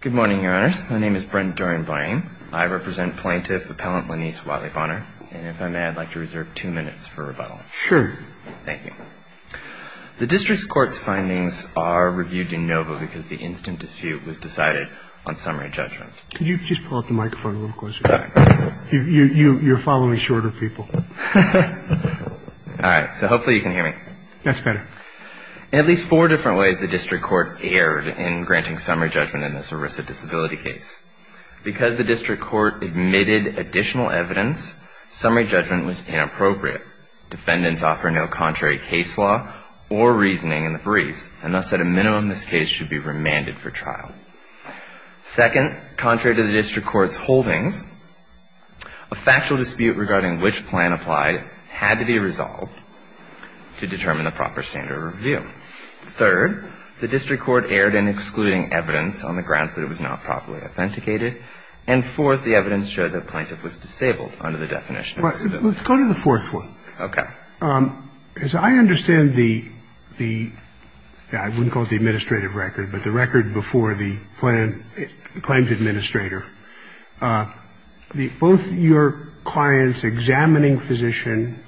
Good morning, Your Honors. My name is Brent Doreian-Boyang. I represent Plaintiff Appellant Laniece Whatley-Bonner, and if I may, I'd like to reserve two minutes for rebuttal. Sure. Thank you. The District Court's findings are reviewed in novo because the instant dispute was decided on summary judgment. Could you just pull up the microphone a little closer? Sorry. You're following shorter people. All right. So hopefully you can hear me. That's better. In at least four different ways, the District Court erred in granting summary judgment in this ERISA disability case. Because the District Court admitted additional evidence, summary judgment was inappropriate. Defendants offer no contrary case law or reasoning in the briefs, and thus, at a minimum, this case should be remanded for trial. Second, contrary to the District Court's holdings, a factual dispute regarding which plan applied had to be resolved to determine the proper standard of review. Third, the District Court erred in excluding evidence on the grounds that it was not properly authenticated. And fourth, the evidence showed that the plaintiff was disabled under the definition of disability. Let's go to the fourth one. Okay. As I understand the, I wouldn't call it the administrative record, but the record before the claim to administrator, both your clients examining physician,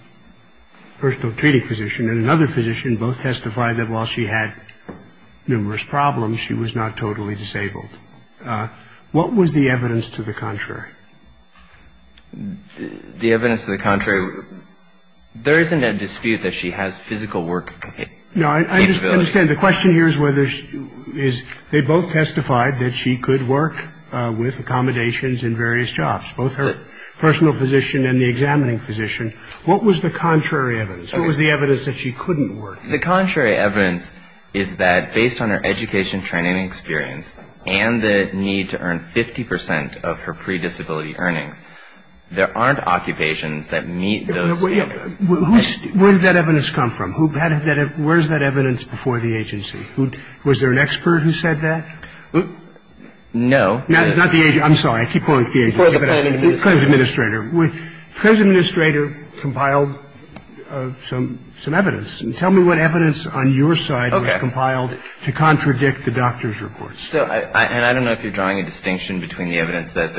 personal treating physician, and another physician, both testified that while she had numerous problems, she was not totally disabled. The evidence to the contrary, there isn't a dispute that she has physical work capability. No, I understand. The question here is whether she is, they both testified that she could work with accommodations in various jobs, both her personal physician and the examining physician. What was the contrary evidence? What was the evidence that she couldn't work? The contrary evidence is that based on her education, training, and experience, and the need to earn 50 percent of her pre-disability earnings, there aren't occupations that meet those standards. Where did that evidence come from? Where is that evidence before the agency? Was there an expert who said that? No. Not the agency. I'm sorry. I keep calling it the agency. Before the plaintiff. Before the administrator. Before the administrator compiled some evidence. And tell me what evidence on your side was compiled to contradict the doctor's report. So, and I don't know if you're drawing a distinction between the evidence that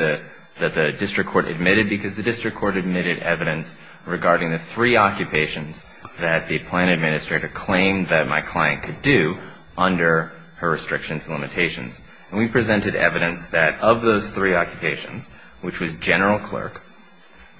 the district court admitted, because the district court admitted evidence regarding the three occupations that the plaintiff administrator claimed that my client could do under her restrictions and limitations. And we presented evidence that of those three occupations, which was general clerk,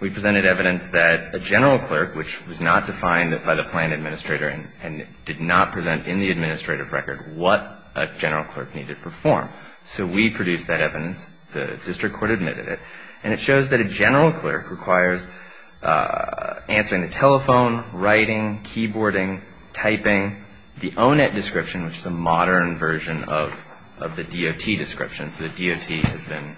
we presented evidence that a general clerk, which was not defined by the plaintiff administrator and did not present in the administrative record what a general clerk needed to perform. So we produced that evidence. The district court admitted it. And it shows that a general clerk requires answering the telephone, writing, keyboarding, typing, the O-Net description, which is a modern version of the DOT description. So the DOT has been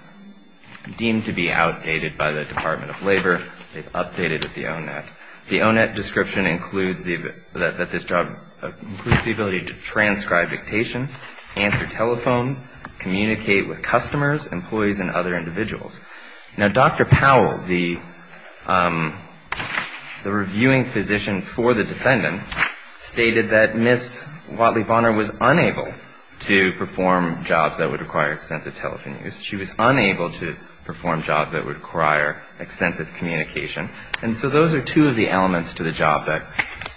deemed to be outdated by the Department of Labor. They've updated the O-Net. The O-Net description includes that this job includes the ability to transcribe dictation, answer telephones, communicate with customers, employees, and other individuals. Now, Dr. Powell, the reviewing physician for the defendant, stated that Ms. Watley Bonner was unable to perform jobs that would require extensive telephone use. She was unable to perform jobs that would require extensive communication. And so those are two of the elements to the job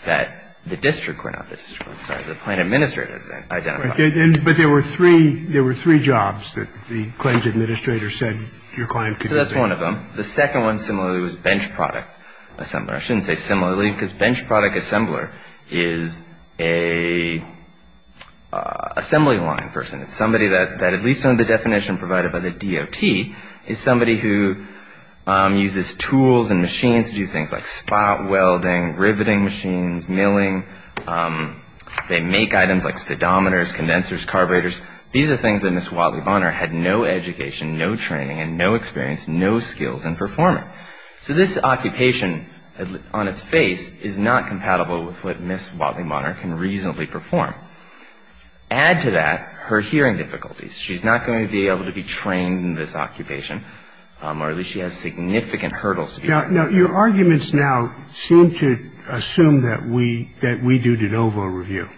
that the district court, not the district court, sorry, the plaintiff administrator identified. But there were three jobs that the claims administrator said your client could do. So that's one of them. The second one, similarly, was bench product assembler. I shouldn't say similarly because bench product assembler is a assembly line person. It's somebody that, at least under the definition provided by the DOT, is somebody who uses tools and machines to do things like spot welding, riveting machines, milling. They make items like speedometers, condensers, carburetors. These are things that Ms. Watley Bonner had no education, no training, and no experience, no skills in performing. So this occupation on its face is not compatible with what Ms. Watley Bonner can reasonably perform. Add to that her hearing difficulties. She's not going to be able to be trained in this occupation. Or at least she has significant hurdles to be trained. Now, your arguments now seem to assume that we do de novo review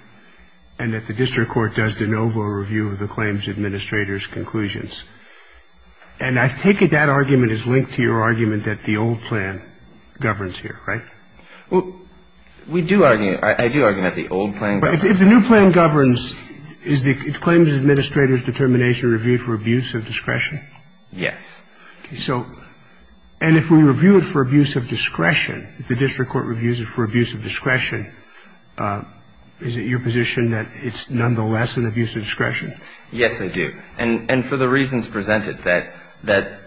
and that the district court does de novo review of the claims administrator's conclusions. And I take it that argument is linked to your argument that the old plan governs here, right? Well, we do argue, I do argue that the old plan governs. But if the new plan governs, is the claims administrator's determination reviewed for abuse of discretion? Yes. Okay. So and if we review it for abuse of discretion, if the district court reviews it for abuse of discretion, is it your position that it's nonetheless an abuse of discretion? Yes, I do. And for the reasons presented, that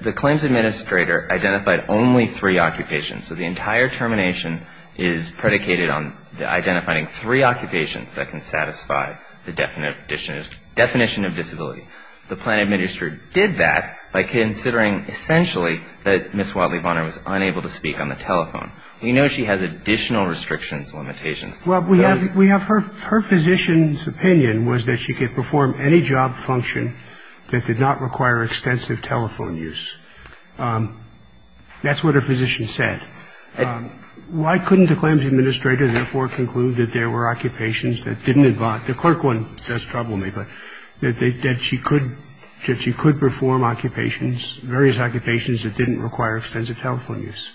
the claims administrator identified only three occupations. So the entire termination is predicated on identifying three occupations that can satisfy the definition of disability. The plan administrator did that by considering essentially that Ms. Watley Bonner was unable to speak on the telephone. We know she has additional restrictions, limitations. Well, we have her physician's opinion was that she could perform any job function that did not require extensive telephone use. That's what her physician said. Why couldn't the claims administrator therefore conclude that there were occupations that didn't involve, the clerk one does trouble me, but that she could perform occupations, various occupations that didn't require extensive telephone use?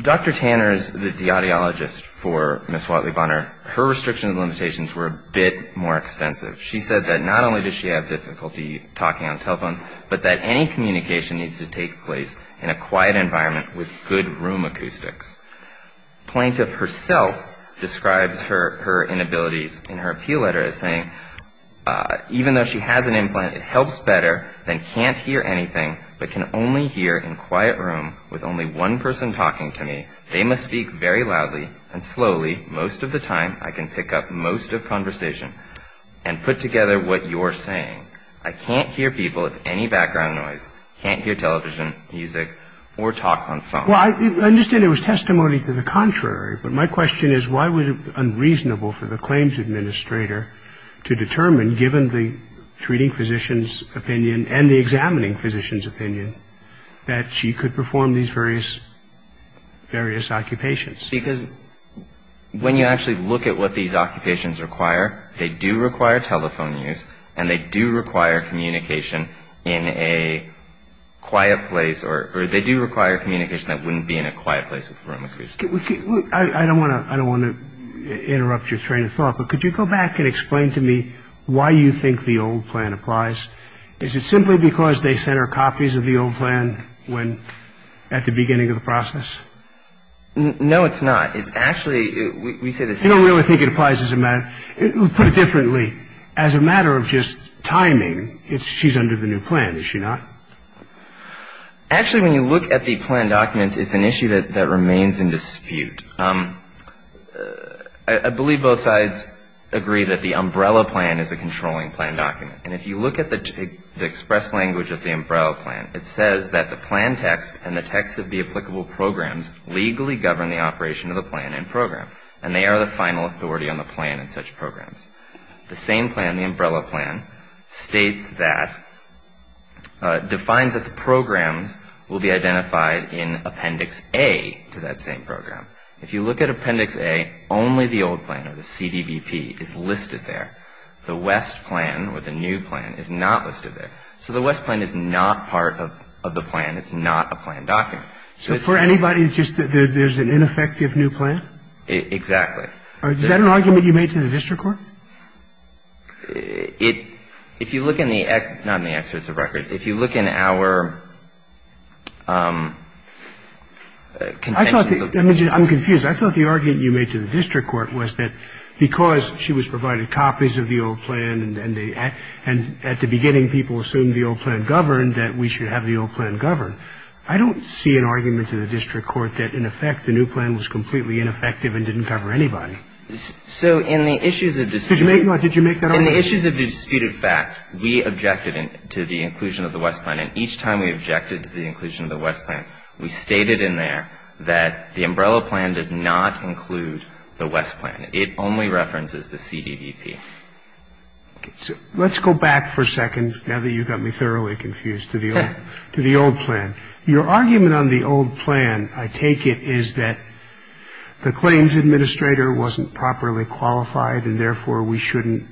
Dr. Tanner's, the audiologist for Ms. Watley Bonner, her restrictions and limitations were a bit more extensive. She said that not only does she have difficulty talking on telephones, but that any communication needs to take place in a quiet environment with good room acoustics. Plaintiff herself describes her inabilities in her appeal letter as saying, even though she has an implant, it helps better than can't hear anything, but can only hear in quiet room with only one person talking to me. They must speak very loudly and slowly. Most of the time I can pick up most of conversation and put together what you're saying. I can't hear people with any background noise, can't hear television, music, or talk on phone. Well, I understand it was testimony to the contrary, but my question is why was it unreasonable for the claims administrator to determine, given the treating physician's opinion and the examining physician's opinion, that she could perform these various, various occupations? Because when you actually look at what these occupations require, they do require telephone use and they do require communication in a quiet place or they do require communication that wouldn't be in a quiet place with room acoustics. I don't want to interrupt your train of thought, but could you go back and explain to me why you think the old plan applies? Is it simply because they sent her copies of the old plan at the beginning of the process? No, it's not. It's actually, we say the same thing. You don't really think it applies as a matter, put it differently, as a matter of just timing, she's under the new plan, is she not? Actually, when you look at the plan documents, it's an issue that remains in dispute. I believe both sides agree that the umbrella plan is a controlling plan document. And if you look at the express language of the umbrella plan, it says that the plan text and the text of the applicable programs legally govern the operation of the plan and program, and they are the final authority on the plan and such programs. The same plan, the umbrella plan, states that, defines that the programs will be identified in Appendix A to that same program. If you look at Appendix A, only the old plan or the CDBP is listed there. The West plan or the new plan is not listed there. So the West plan is not part of the plan. It's not a plan document. So for anybody, it's just that there's an ineffective new plan? Exactly. Is that an argument you made to the district court? It, if you look in the, not in the excerpts of record. If you look in our, I'm confused. I thought the argument you made to the district court was that because she was provided copies of the old plan and at the beginning people assumed the old plan governed that we should have the old plan govern. I don't see an argument to the district court that, in effect, the new plan was completely ineffective and didn't cover anybody. So in the issues of this. Did you make that argument? In the issues of the disputed fact, we objected to the inclusion of the West plan. And each time we objected to the inclusion of the West plan, we stated in there that the umbrella plan does not include the West plan. It only references the CDDP. Okay. So let's go back for a second, now that you've got me thoroughly confused, to the old plan. Your argument on the old plan, I take it, is that the claims administrator wasn't properly qualified and, therefore, we shouldn't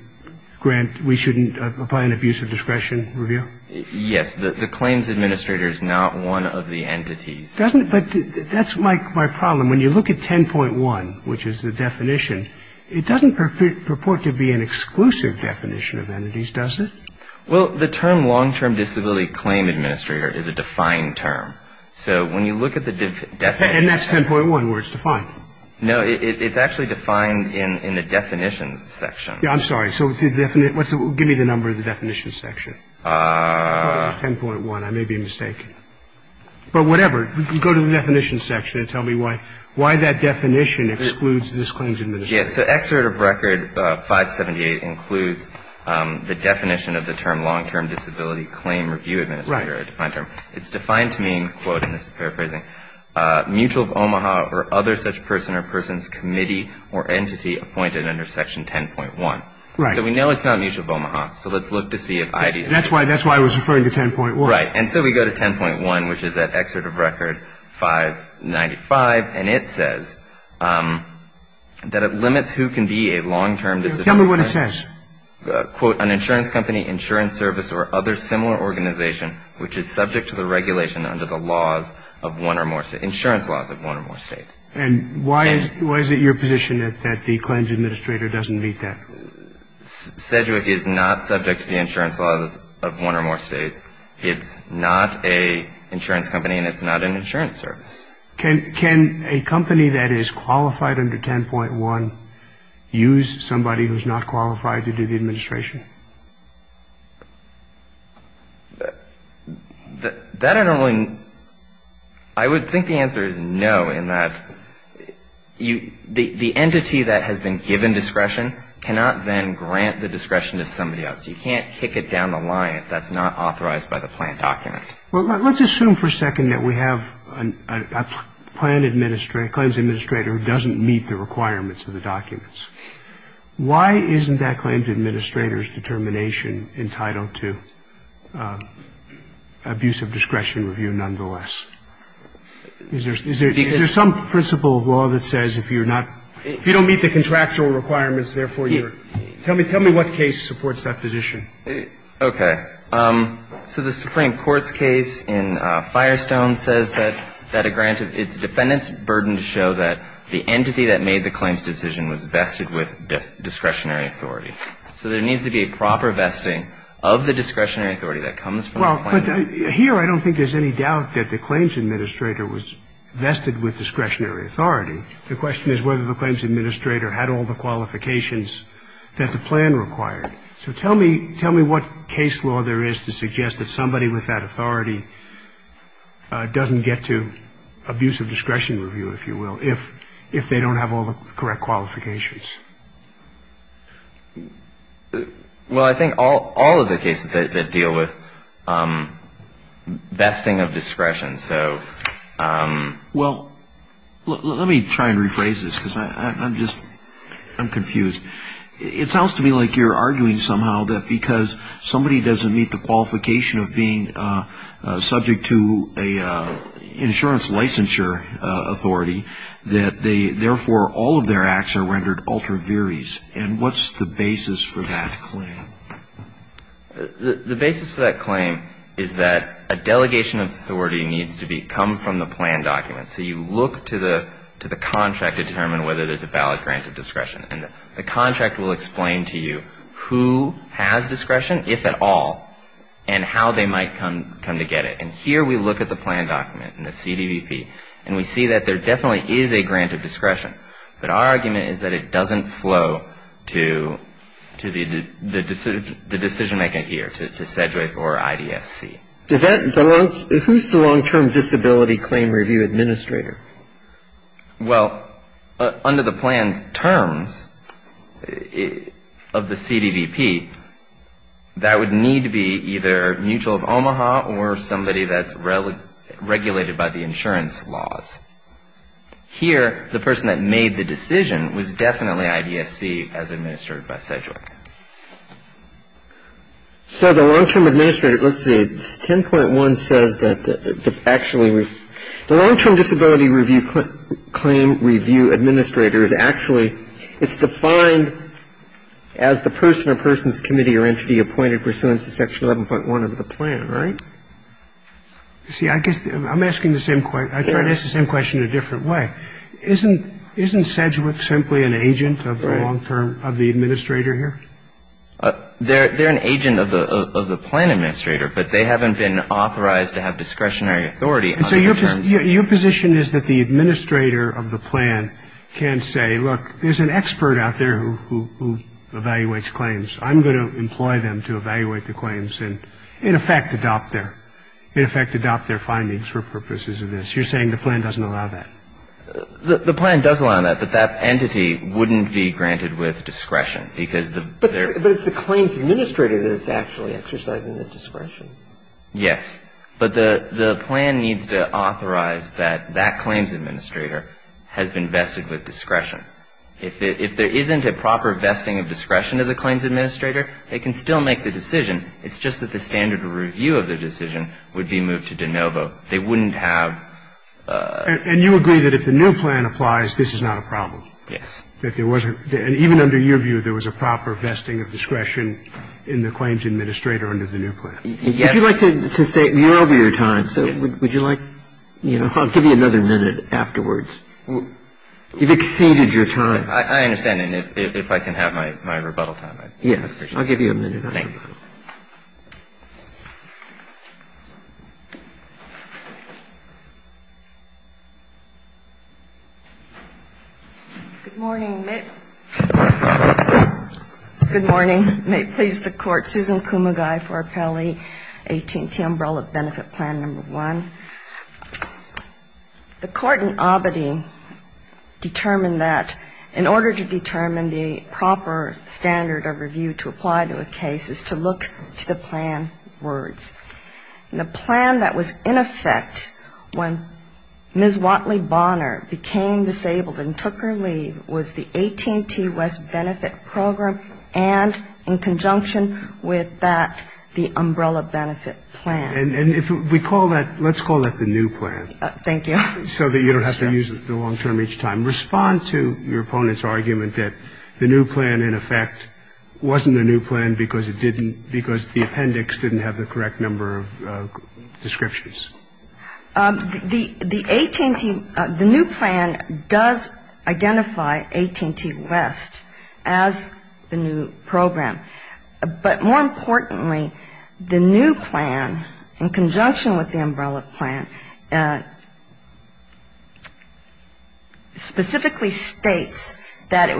grant, we shouldn't apply an abuse of discretion review? Yes. The claims administrator is not one of the entities. Doesn't, but that's my problem. When you look at 10.1, which is the definition, it doesn't purport to be an exclusive definition of entities, does it? Well, the term long-term disability claim administrator is a defined term. So when you look at the definition. And that's 10.1 where it's defined. No, it's actually defined in the definitions section. Yeah, I'm sorry. So give me the number of the definitions section. 10.1, I may be mistaken. But whatever. Go to the definitions section and tell me why that definition excludes this claims administrator. Yes. So Exert of Record 578 includes the definition of the term long-term disability claim review administrator. Right. It's defined to mean, quote, and this is paraphrasing, mutual of Omaha or other such person or person's committee or entity appointed under Section 10.1. Right. So we know it's not mutual of Omaha. So let's look to see if IDC. That's why I was referring to 10.1. Right. And so we go to 10.1, which is at Exert of Record 595. And it says that it limits who can be a long-term disability claim administrator. Tell me what it says. Quote, an insurance company, insurance service, or other similar organization which is subject to the regulation under the laws of one or more states, insurance laws of one or more states. And why is it your position that the claims administrator doesn't meet that? Sedgwick is not subject to the insurance laws of one or more states. It's not an insurance company and it's not an insurance service. Can a company that is qualified under 10.1 use somebody who's not qualified to do the administration? That I don't really know. I would think the answer is no, in that the entity that has been given discretion cannot then grant the discretion to somebody else. You can't kick it down the line if that's not authorized by the plan document. Well, let's assume for a second that we have a plan administrator, claims administrator, who doesn't meet the requirements of the documents. Why isn't that claim administrator's determination entitled to abuse of discretion review nonetheless? Is there some principle of law that says if you're not, if you don't meet the contractual requirements, therefore you're, tell me what case supports that position? Okay. So the Supreme Court's case in Firestone says that a grant, it's the defendant's burden to show that the entity that made the claims decision was vested with discretionary authority. So there needs to be a proper vesting of the discretionary authority that comes from the plan. Well, but here I don't think there's any doubt that the claims administrator was vested with discretionary authority. The question is whether the claims administrator had all the qualifications that the plan required. So tell me what case law there is to suggest that somebody with that authority doesn't get to abuse of discretion review, if you will, if they don't have all the correct qualifications. Well, I think all of the cases that deal with vesting of discretion, so. Well, let me try and rephrase this because I'm just, I'm confused. It sounds to me like you're arguing somehow that because somebody doesn't meet the qualification of being subject to an insurance licensure authority, that they, therefore all of their acts are rendered ultra viris. And what's the basis for that claim? The basis for that claim is that a delegation of authority needs to come from the plan documents. So you look to the contract to determine whether there's a valid grant of discretion. And the contract will explain to you who has discretion, if at all, and how they might come to get it. And here we look at the plan document and the CDVP, and we see that there definitely is a grant of discretion. But our argument is that it doesn't flow to the decision-making gear, to SEDGWC or IDSC. Who's the long-term disability claim review administrator? Well, under the plan's terms of the CDVP, that would need to be either mutual of Omaha or somebody that's regulated by the insurance laws. Here, the person that made the decision was definitely IDSC as administered by SEDGWC. So the long-term administrator, let's see, this 10.1 says that actually the long-term disability review claim review administrator is actually, it's defined as the person or person's committee or entity appointed pursuant to Section 11.1 of the plan, right? See, I guess I'm asking the same question. I tried to ask the same question in a different way. Isn't SEDGWC simply an agent of the long-term, of the administrator here? They're an agent of the plan administrator, but they haven't been authorized to have discretionary authority. So your position is that the administrator of the plan can say, look, there's an expert out there who evaluates claims. I'm going to employ them to evaluate the claims and, in effect, adopt their findings for purposes of this. You're saying the plan doesn't allow that? The plan does allow that, but that entity wouldn't be granted with discretion because of their ---- But it's the claims administrator that is actually exercising the discretion. Yes. But the plan needs to authorize that that claims administrator has been vested with discretion. If there isn't a proper vesting of discretion of the claims administrator, they can still make the decision. It's just that the standard review of the decision would be moved to de novo. They wouldn't have ---- And you agree that if the new plan applies, this is not a problem? Yes. That there wasn't ---- and even under your view, there was a proper vesting of discretion in the claims administrator under the new plan? Yes. Would you like to say ---- you're over your time, so would you like, you know, I'll give you another minute afterwards. You've exceeded your time. I understand. And if I can have my rebuttal time, I'd appreciate it. Yes. I'll give you a minute. Thank you. Good morning. Good morning. May it please the Court. Susan Kumagai for Appellee 18T, Umbrella Benefit Plan No. 1. The Court in Abedi determined that in order to determine the proper standard of review to apply to a case is to look to the plan words. And the plan that was in effect when Ms. Watley Bonner became disabled and took her leave was the 18T West Benefit Program and in conjunction with that, the Umbrella Benefit Plan. And if we call that ---- let's call that the new plan. Thank you. So that you don't have to use the long term each time. Respond to your opponent's argument that the new plan in effect wasn't a new plan because it didn't ---- I didn't get the number of descriptions. The 18T ---- the new plan does identify 18T West as the new program. But more importantly, the new plan in conjunction with the Umbrella plan specifically states that it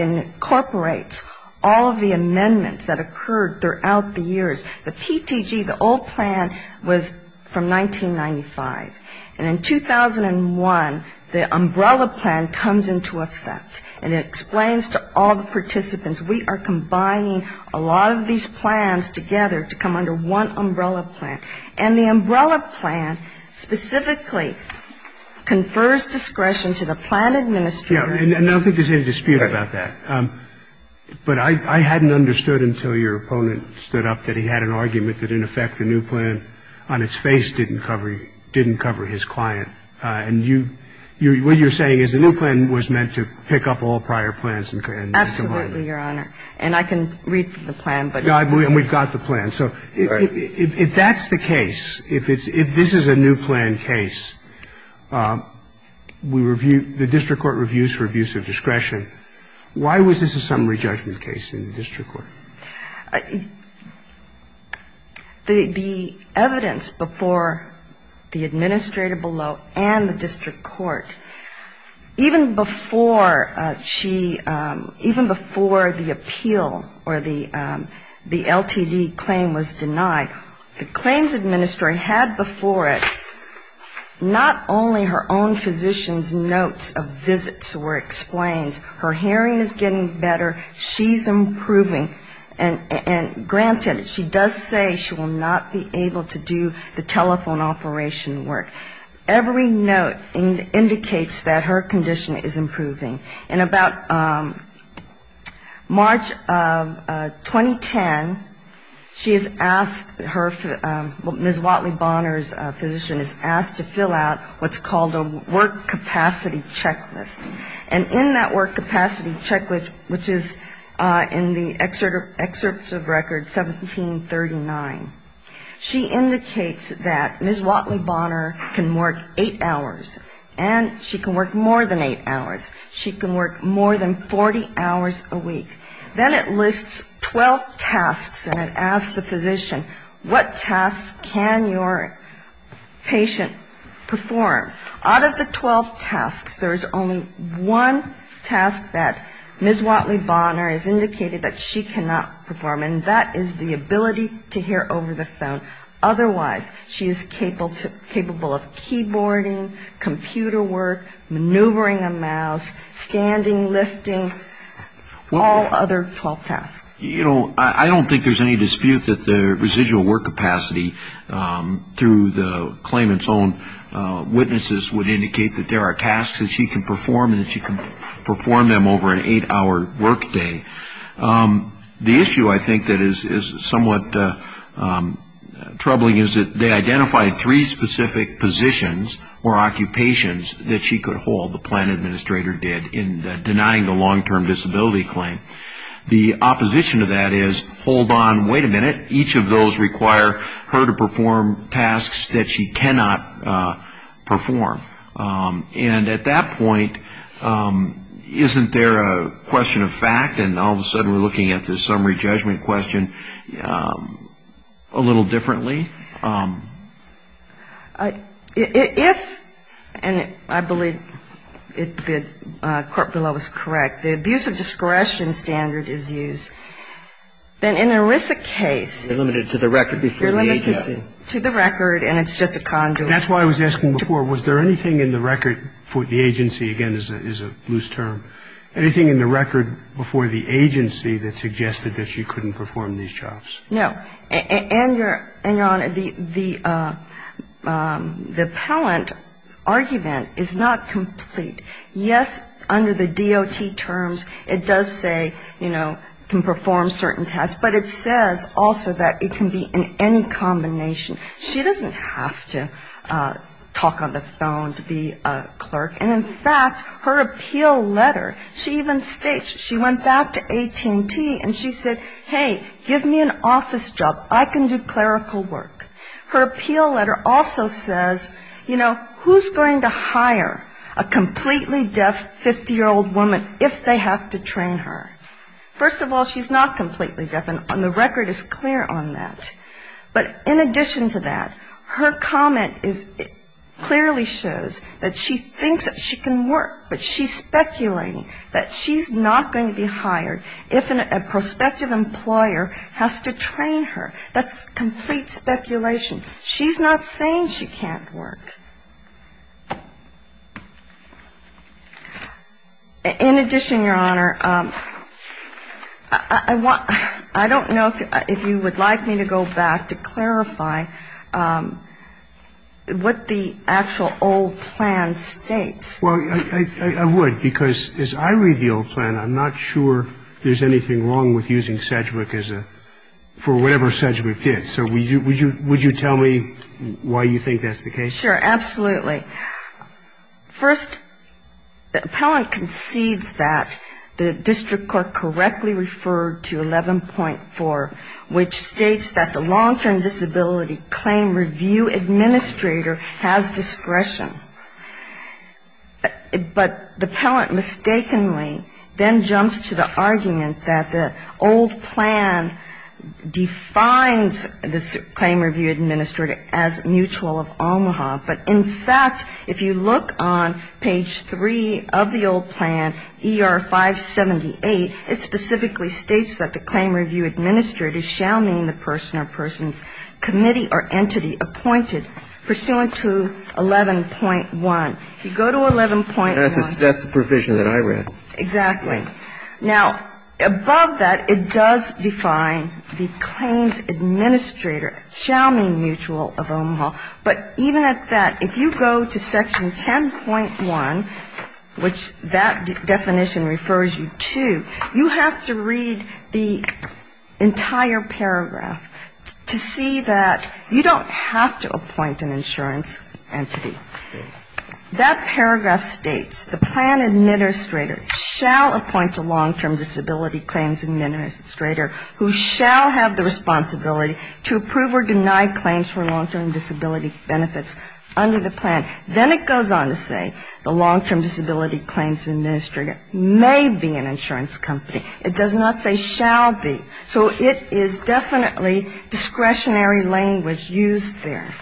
incorporates all of the amendments that occurred throughout the years. The PTG, the old plan, was from 1995. And in 2001, the Umbrella plan comes into effect, and it explains to all the participants we are combining a lot of these plans together to come under one Umbrella plan. And the Umbrella plan specifically confers discretion to the plan administrator. And I don't think there's any dispute about that. But I hadn't understood until your opponent stood up that he had an argument that, in effect, the new plan on its face didn't cover his client. And you ---- what you're saying is the new plan was meant to pick up all prior plans and divide them. Absolutely, Your Honor. And I can read the plan. And we've got the plan. So if that's the case, if it's ---- if this is a new plan case, we review ---- the district court reviews for abuse of discretion. Why was this a summary judgment case in the district court? The evidence before the administrator below and the district court, even before she ---- even before the appeal or the LTD claim was denied, the claims administrator had before it not only her own physician's notes of visits where it explains her hearing is getting better, she's improving, and granted, she does say she will not be able to do the telephone operation work. Every note indicates that her condition is improving. In about March of 2010, she is asked her ---- Ms. Watley Bonner's physician is asked to fill out what's called a work capacity checklist. And in that work capacity checklist, which is in the excerpt of record 1739, she indicates that Ms. Watley Bonner can work eight hours, and she can work more than eight hours. She can work more than 40 hours a week. Then it lists 12 tasks, and it asks the physician, what tasks can your patient perform? Out of the 12 tasks, there is only one task that Ms. Watley Bonner has indicated that she cannot perform, and that is the ability to hear over the phone. Otherwise, she is capable of keyboarding, computer work, maneuvering a mouse, standing, lifting, all other 12 tasks. You know, I don't think there's any dispute that the residual work capacity through the claimant's own witnesses would indicate that there are tasks that she can perform and that she can perform them over an eight-hour workday. The issue I think that is somewhat troubling is that they identified three specific positions or occupations that she could hold, the plan administrator did, in denying the long-term disability claim. The opposition to that is, hold on, wait a minute, each of those require her to perform tasks that she cannot perform. And at that point, isn't there a question of fact, and all of a sudden we're looking at the summary judgment question a little differently? If, and I believe the court below is correct, the abuse of discretion standard is used, then in an ERISA case they're limited to the short-term, and the long-term. And so the question is, is there any record, and it's just a conduit. That's why I was asking before, was there anything in the record for the agency, again, is a loose term, anything in the record before the agency that suggested that she couldn't perform these jobs? No. And, Your Honor, the appellant argument is not complete. Yes, under the DOT terms it does say, you know, can perform certain tasks, but it says also that it can be in any combination. She doesn't have to talk on the phone to be a clerk. And in fact, her appeal letter, she even states, she went back to AT&T and she said, hey, give me an office job. I can do clerical work. Her appeal letter also says, you know, who's going to hire a completely deaf 50-year-old woman if they have to train her? First of all, she's not completely deaf, and the record is clear on that. But in addition to that, her comment clearly shows that she thinks that she can work, but she's speculating that she's not going to be hired if a prospective employer has to train her. That's complete speculation. She's not saying she can't work. In addition, Your Honor, I don't know if you would like me to go back to clarify what the actual old plan states. Well, I would, because as I read the old plan, I'm not sure there's anything wrong with using Sedgwick for whatever Sedgwick did. So would you tell me why you think that's the case? Sure, absolutely. First, the appellant concedes that the district court correctly referred to 11.4, which states that the long-term disability claim review administrator has discretion. But the appellant mistakenly then jumps to the argument that the old plan defines the claim review administrator as mutual of Omaha, but in fact, if you look on page 3 of the old plan, ER-578, it specifically states that the claim review administrator shall mean the person or person's committee or entity appointed pursuant to 11.1. You go to 11.1. That's the provision that I read. Exactly. Now, above that, it does define the claims administrator shall mean mutual of Omaha. But even at that, if you go to section 10.1, which that definition refers you to, you have to read the entire paragraph to see that you don't have to appoint an insurance entity. That paragraph states the plan administrator shall appoint a long-term disability claims administrator who shall have the responsibility to approve or deny claims for long-term disability benefits under the plan. Then it goes on to say the long-term disability claims administrator may be an insurance company. It does not say shall be. So it is definitely discretionary language used there.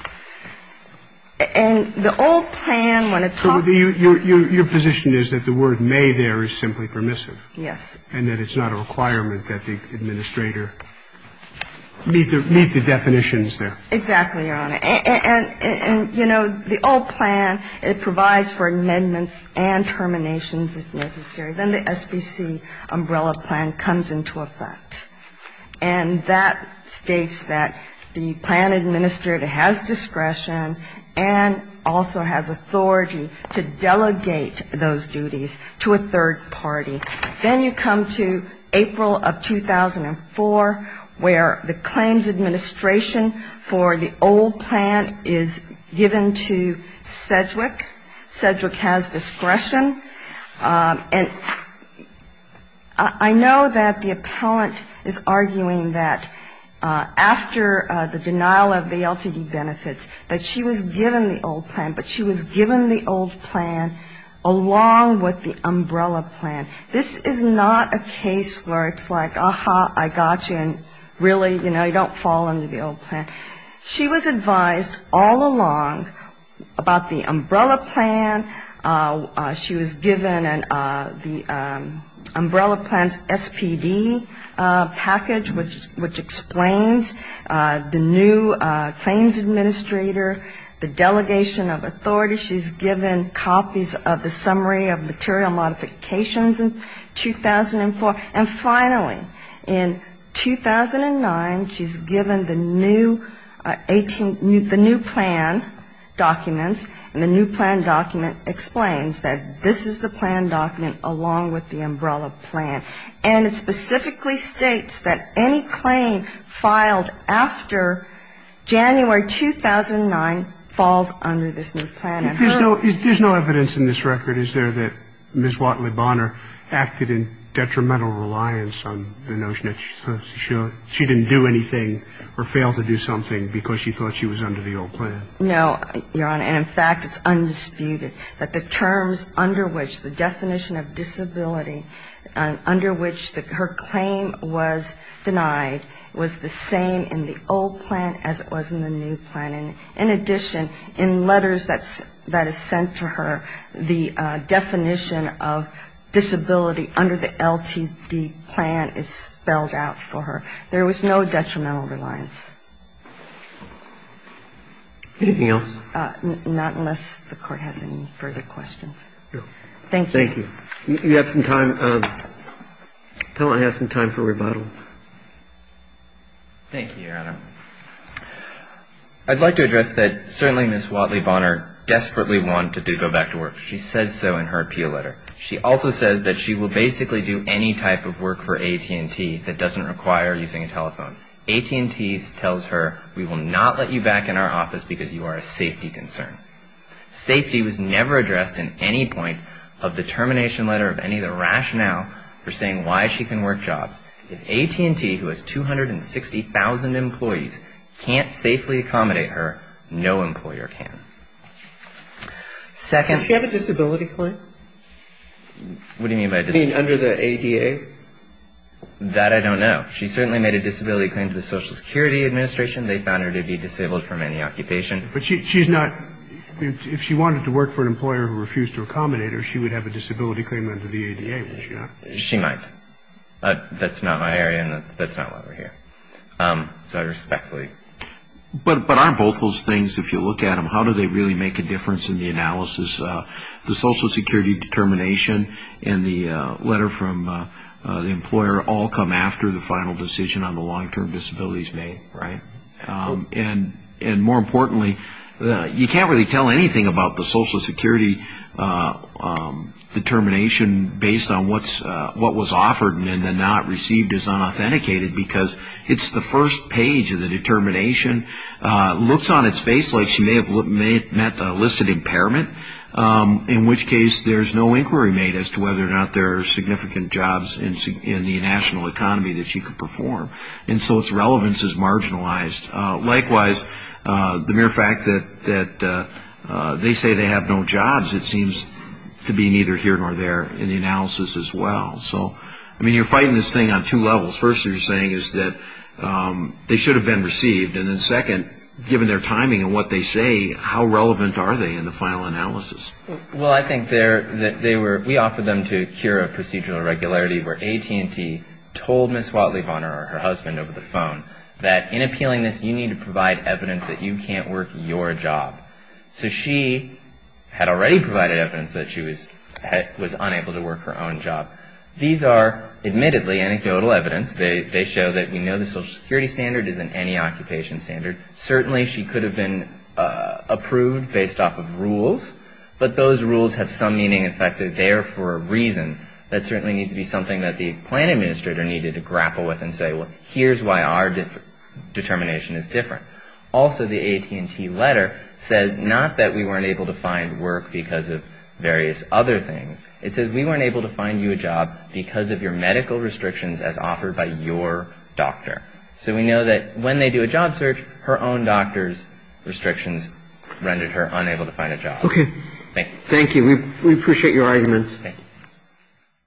And the old plan, when it talks to you ñ So your position is that the word may there is simply permissive? Yes. And that it's not a requirement that the administrator meet the definitions there. Exactly, Your Honor. And, you know, the old plan, it provides for amendments and terminations if necessary. Then the SBC umbrella plan comes into effect. And that states that the plan administrator has discretion and also has authority to delegate those duties to a third party. Then you come to April of 2004, where the claims administration for the old plan is given to Sedgwick. Sedgwick has discretion. And I know that the appellant is arguing that after the denial of the LTD benefits, that she was given the old plan, but she was given the old plan along with the umbrella plan. This is not a case where it's like, aha, I got you, and really, you know, you don't fall under the old plan. She was advised all along about the umbrella plan. She was given the umbrella plan's SPD package, which explains the new claims administrator, the delegation of authority. She's given copies of the summary of material modifications in 2004. And finally, in 2009, she's given the new plan documents, and the new plan document explains that this is the plan And she's given the new plan document along with the umbrella plan. And it specifically states that any claim filed after January 2009 falls under this new plan. And her own. There's no evidence in this record, is there, that Ms. Watley Bonner acted in detrimental reliance on the notion that she didn't do anything or fail to do something because she thought she was under the old plan? No, Your Honor, and in fact, it's undisputed that the terms under which the definition of disability, under which her claim was denied, was the same in the old plan as it was in the new plan. And in addition, in letters that is sent to her, the definition of disability under the LTD plan is spelled out for her. There was no detrimental reliance. Anything else? Not unless the Court has any further questions. Thank you. You have some time. Tell him I have some time for rebuttal. Thank you, Your Honor. I'd like to address that certainly Ms. Watley Bonner desperately wanted to go back to work. She says so in her appeal letter. She also says that she will basically do any type of work for AT&T that doesn't require using a telephone. AT&T tells her, we will not let you back in our office because you are a safety concern. Safety was never addressed in any point of the termination letter of any of the rationale for saying why she can work jobs. If AT&T, who has 260,000 employees, can't safely accommodate her, no employer can. Does she have a disability claim? What do you mean by disability? Under the ADA? That I don't know. She certainly made a disability claim to the Social Security Administration. They found her to be disabled from any occupation. If she wanted to work for an employer who refused to accommodate her, she would have a disability claim under the ADA, would she not? She might. But aren't both those things, if you look at them, how do they really make a difference in the analysis? The Social Security determination and the letter from the employer all come after the final decision on the long-term disabilities made, right? And more importantly, you can't really tell anything about the Social Security determination based on what was offered and then not received as unauthenticated, because it's the first page of the determination, looks on its face like she may have met the listed impairment, in which case there's no inquiry made as to whether or not there are significant jobs in the national economy that she could perform. And so its relevance is marginalized. Likewise, the mere fact that they say they have no jobs, it seems to be neither here nor there in the analysis as well. So, I mean, you're fighting this thing on two levels. First, you're saying is that they should have been received. And then second, given their timing and what they say, how relevant are they in the final analysis? Well, I think they were, we offered them to cure a procedural irregularity where AT&T told Ms. Watley Bonner or her husband over the phone that in appealing this, you need to provide evidence that you can't work your job. So she had already provided evidence that she was unable to work her own job. These are admittedly anecdotal evidence. They show that we know the Social Security standard isn't any occupation standard. But those rules have some meaning, in fact, they're there for a reason. That certainly needs to be something that the plan administrator needed to grapple with and say, well, here's why our determination is different. Also, the AT&T letter says not that we weren't able to find work because of various other things. It says we weren't able to find you a job because of your medical restrictions as offered by your doctor. So we know that when they do a job search, her own doctor's restrictions rendered her unable to find a job. OK. Thank you. We appreciate your arguments.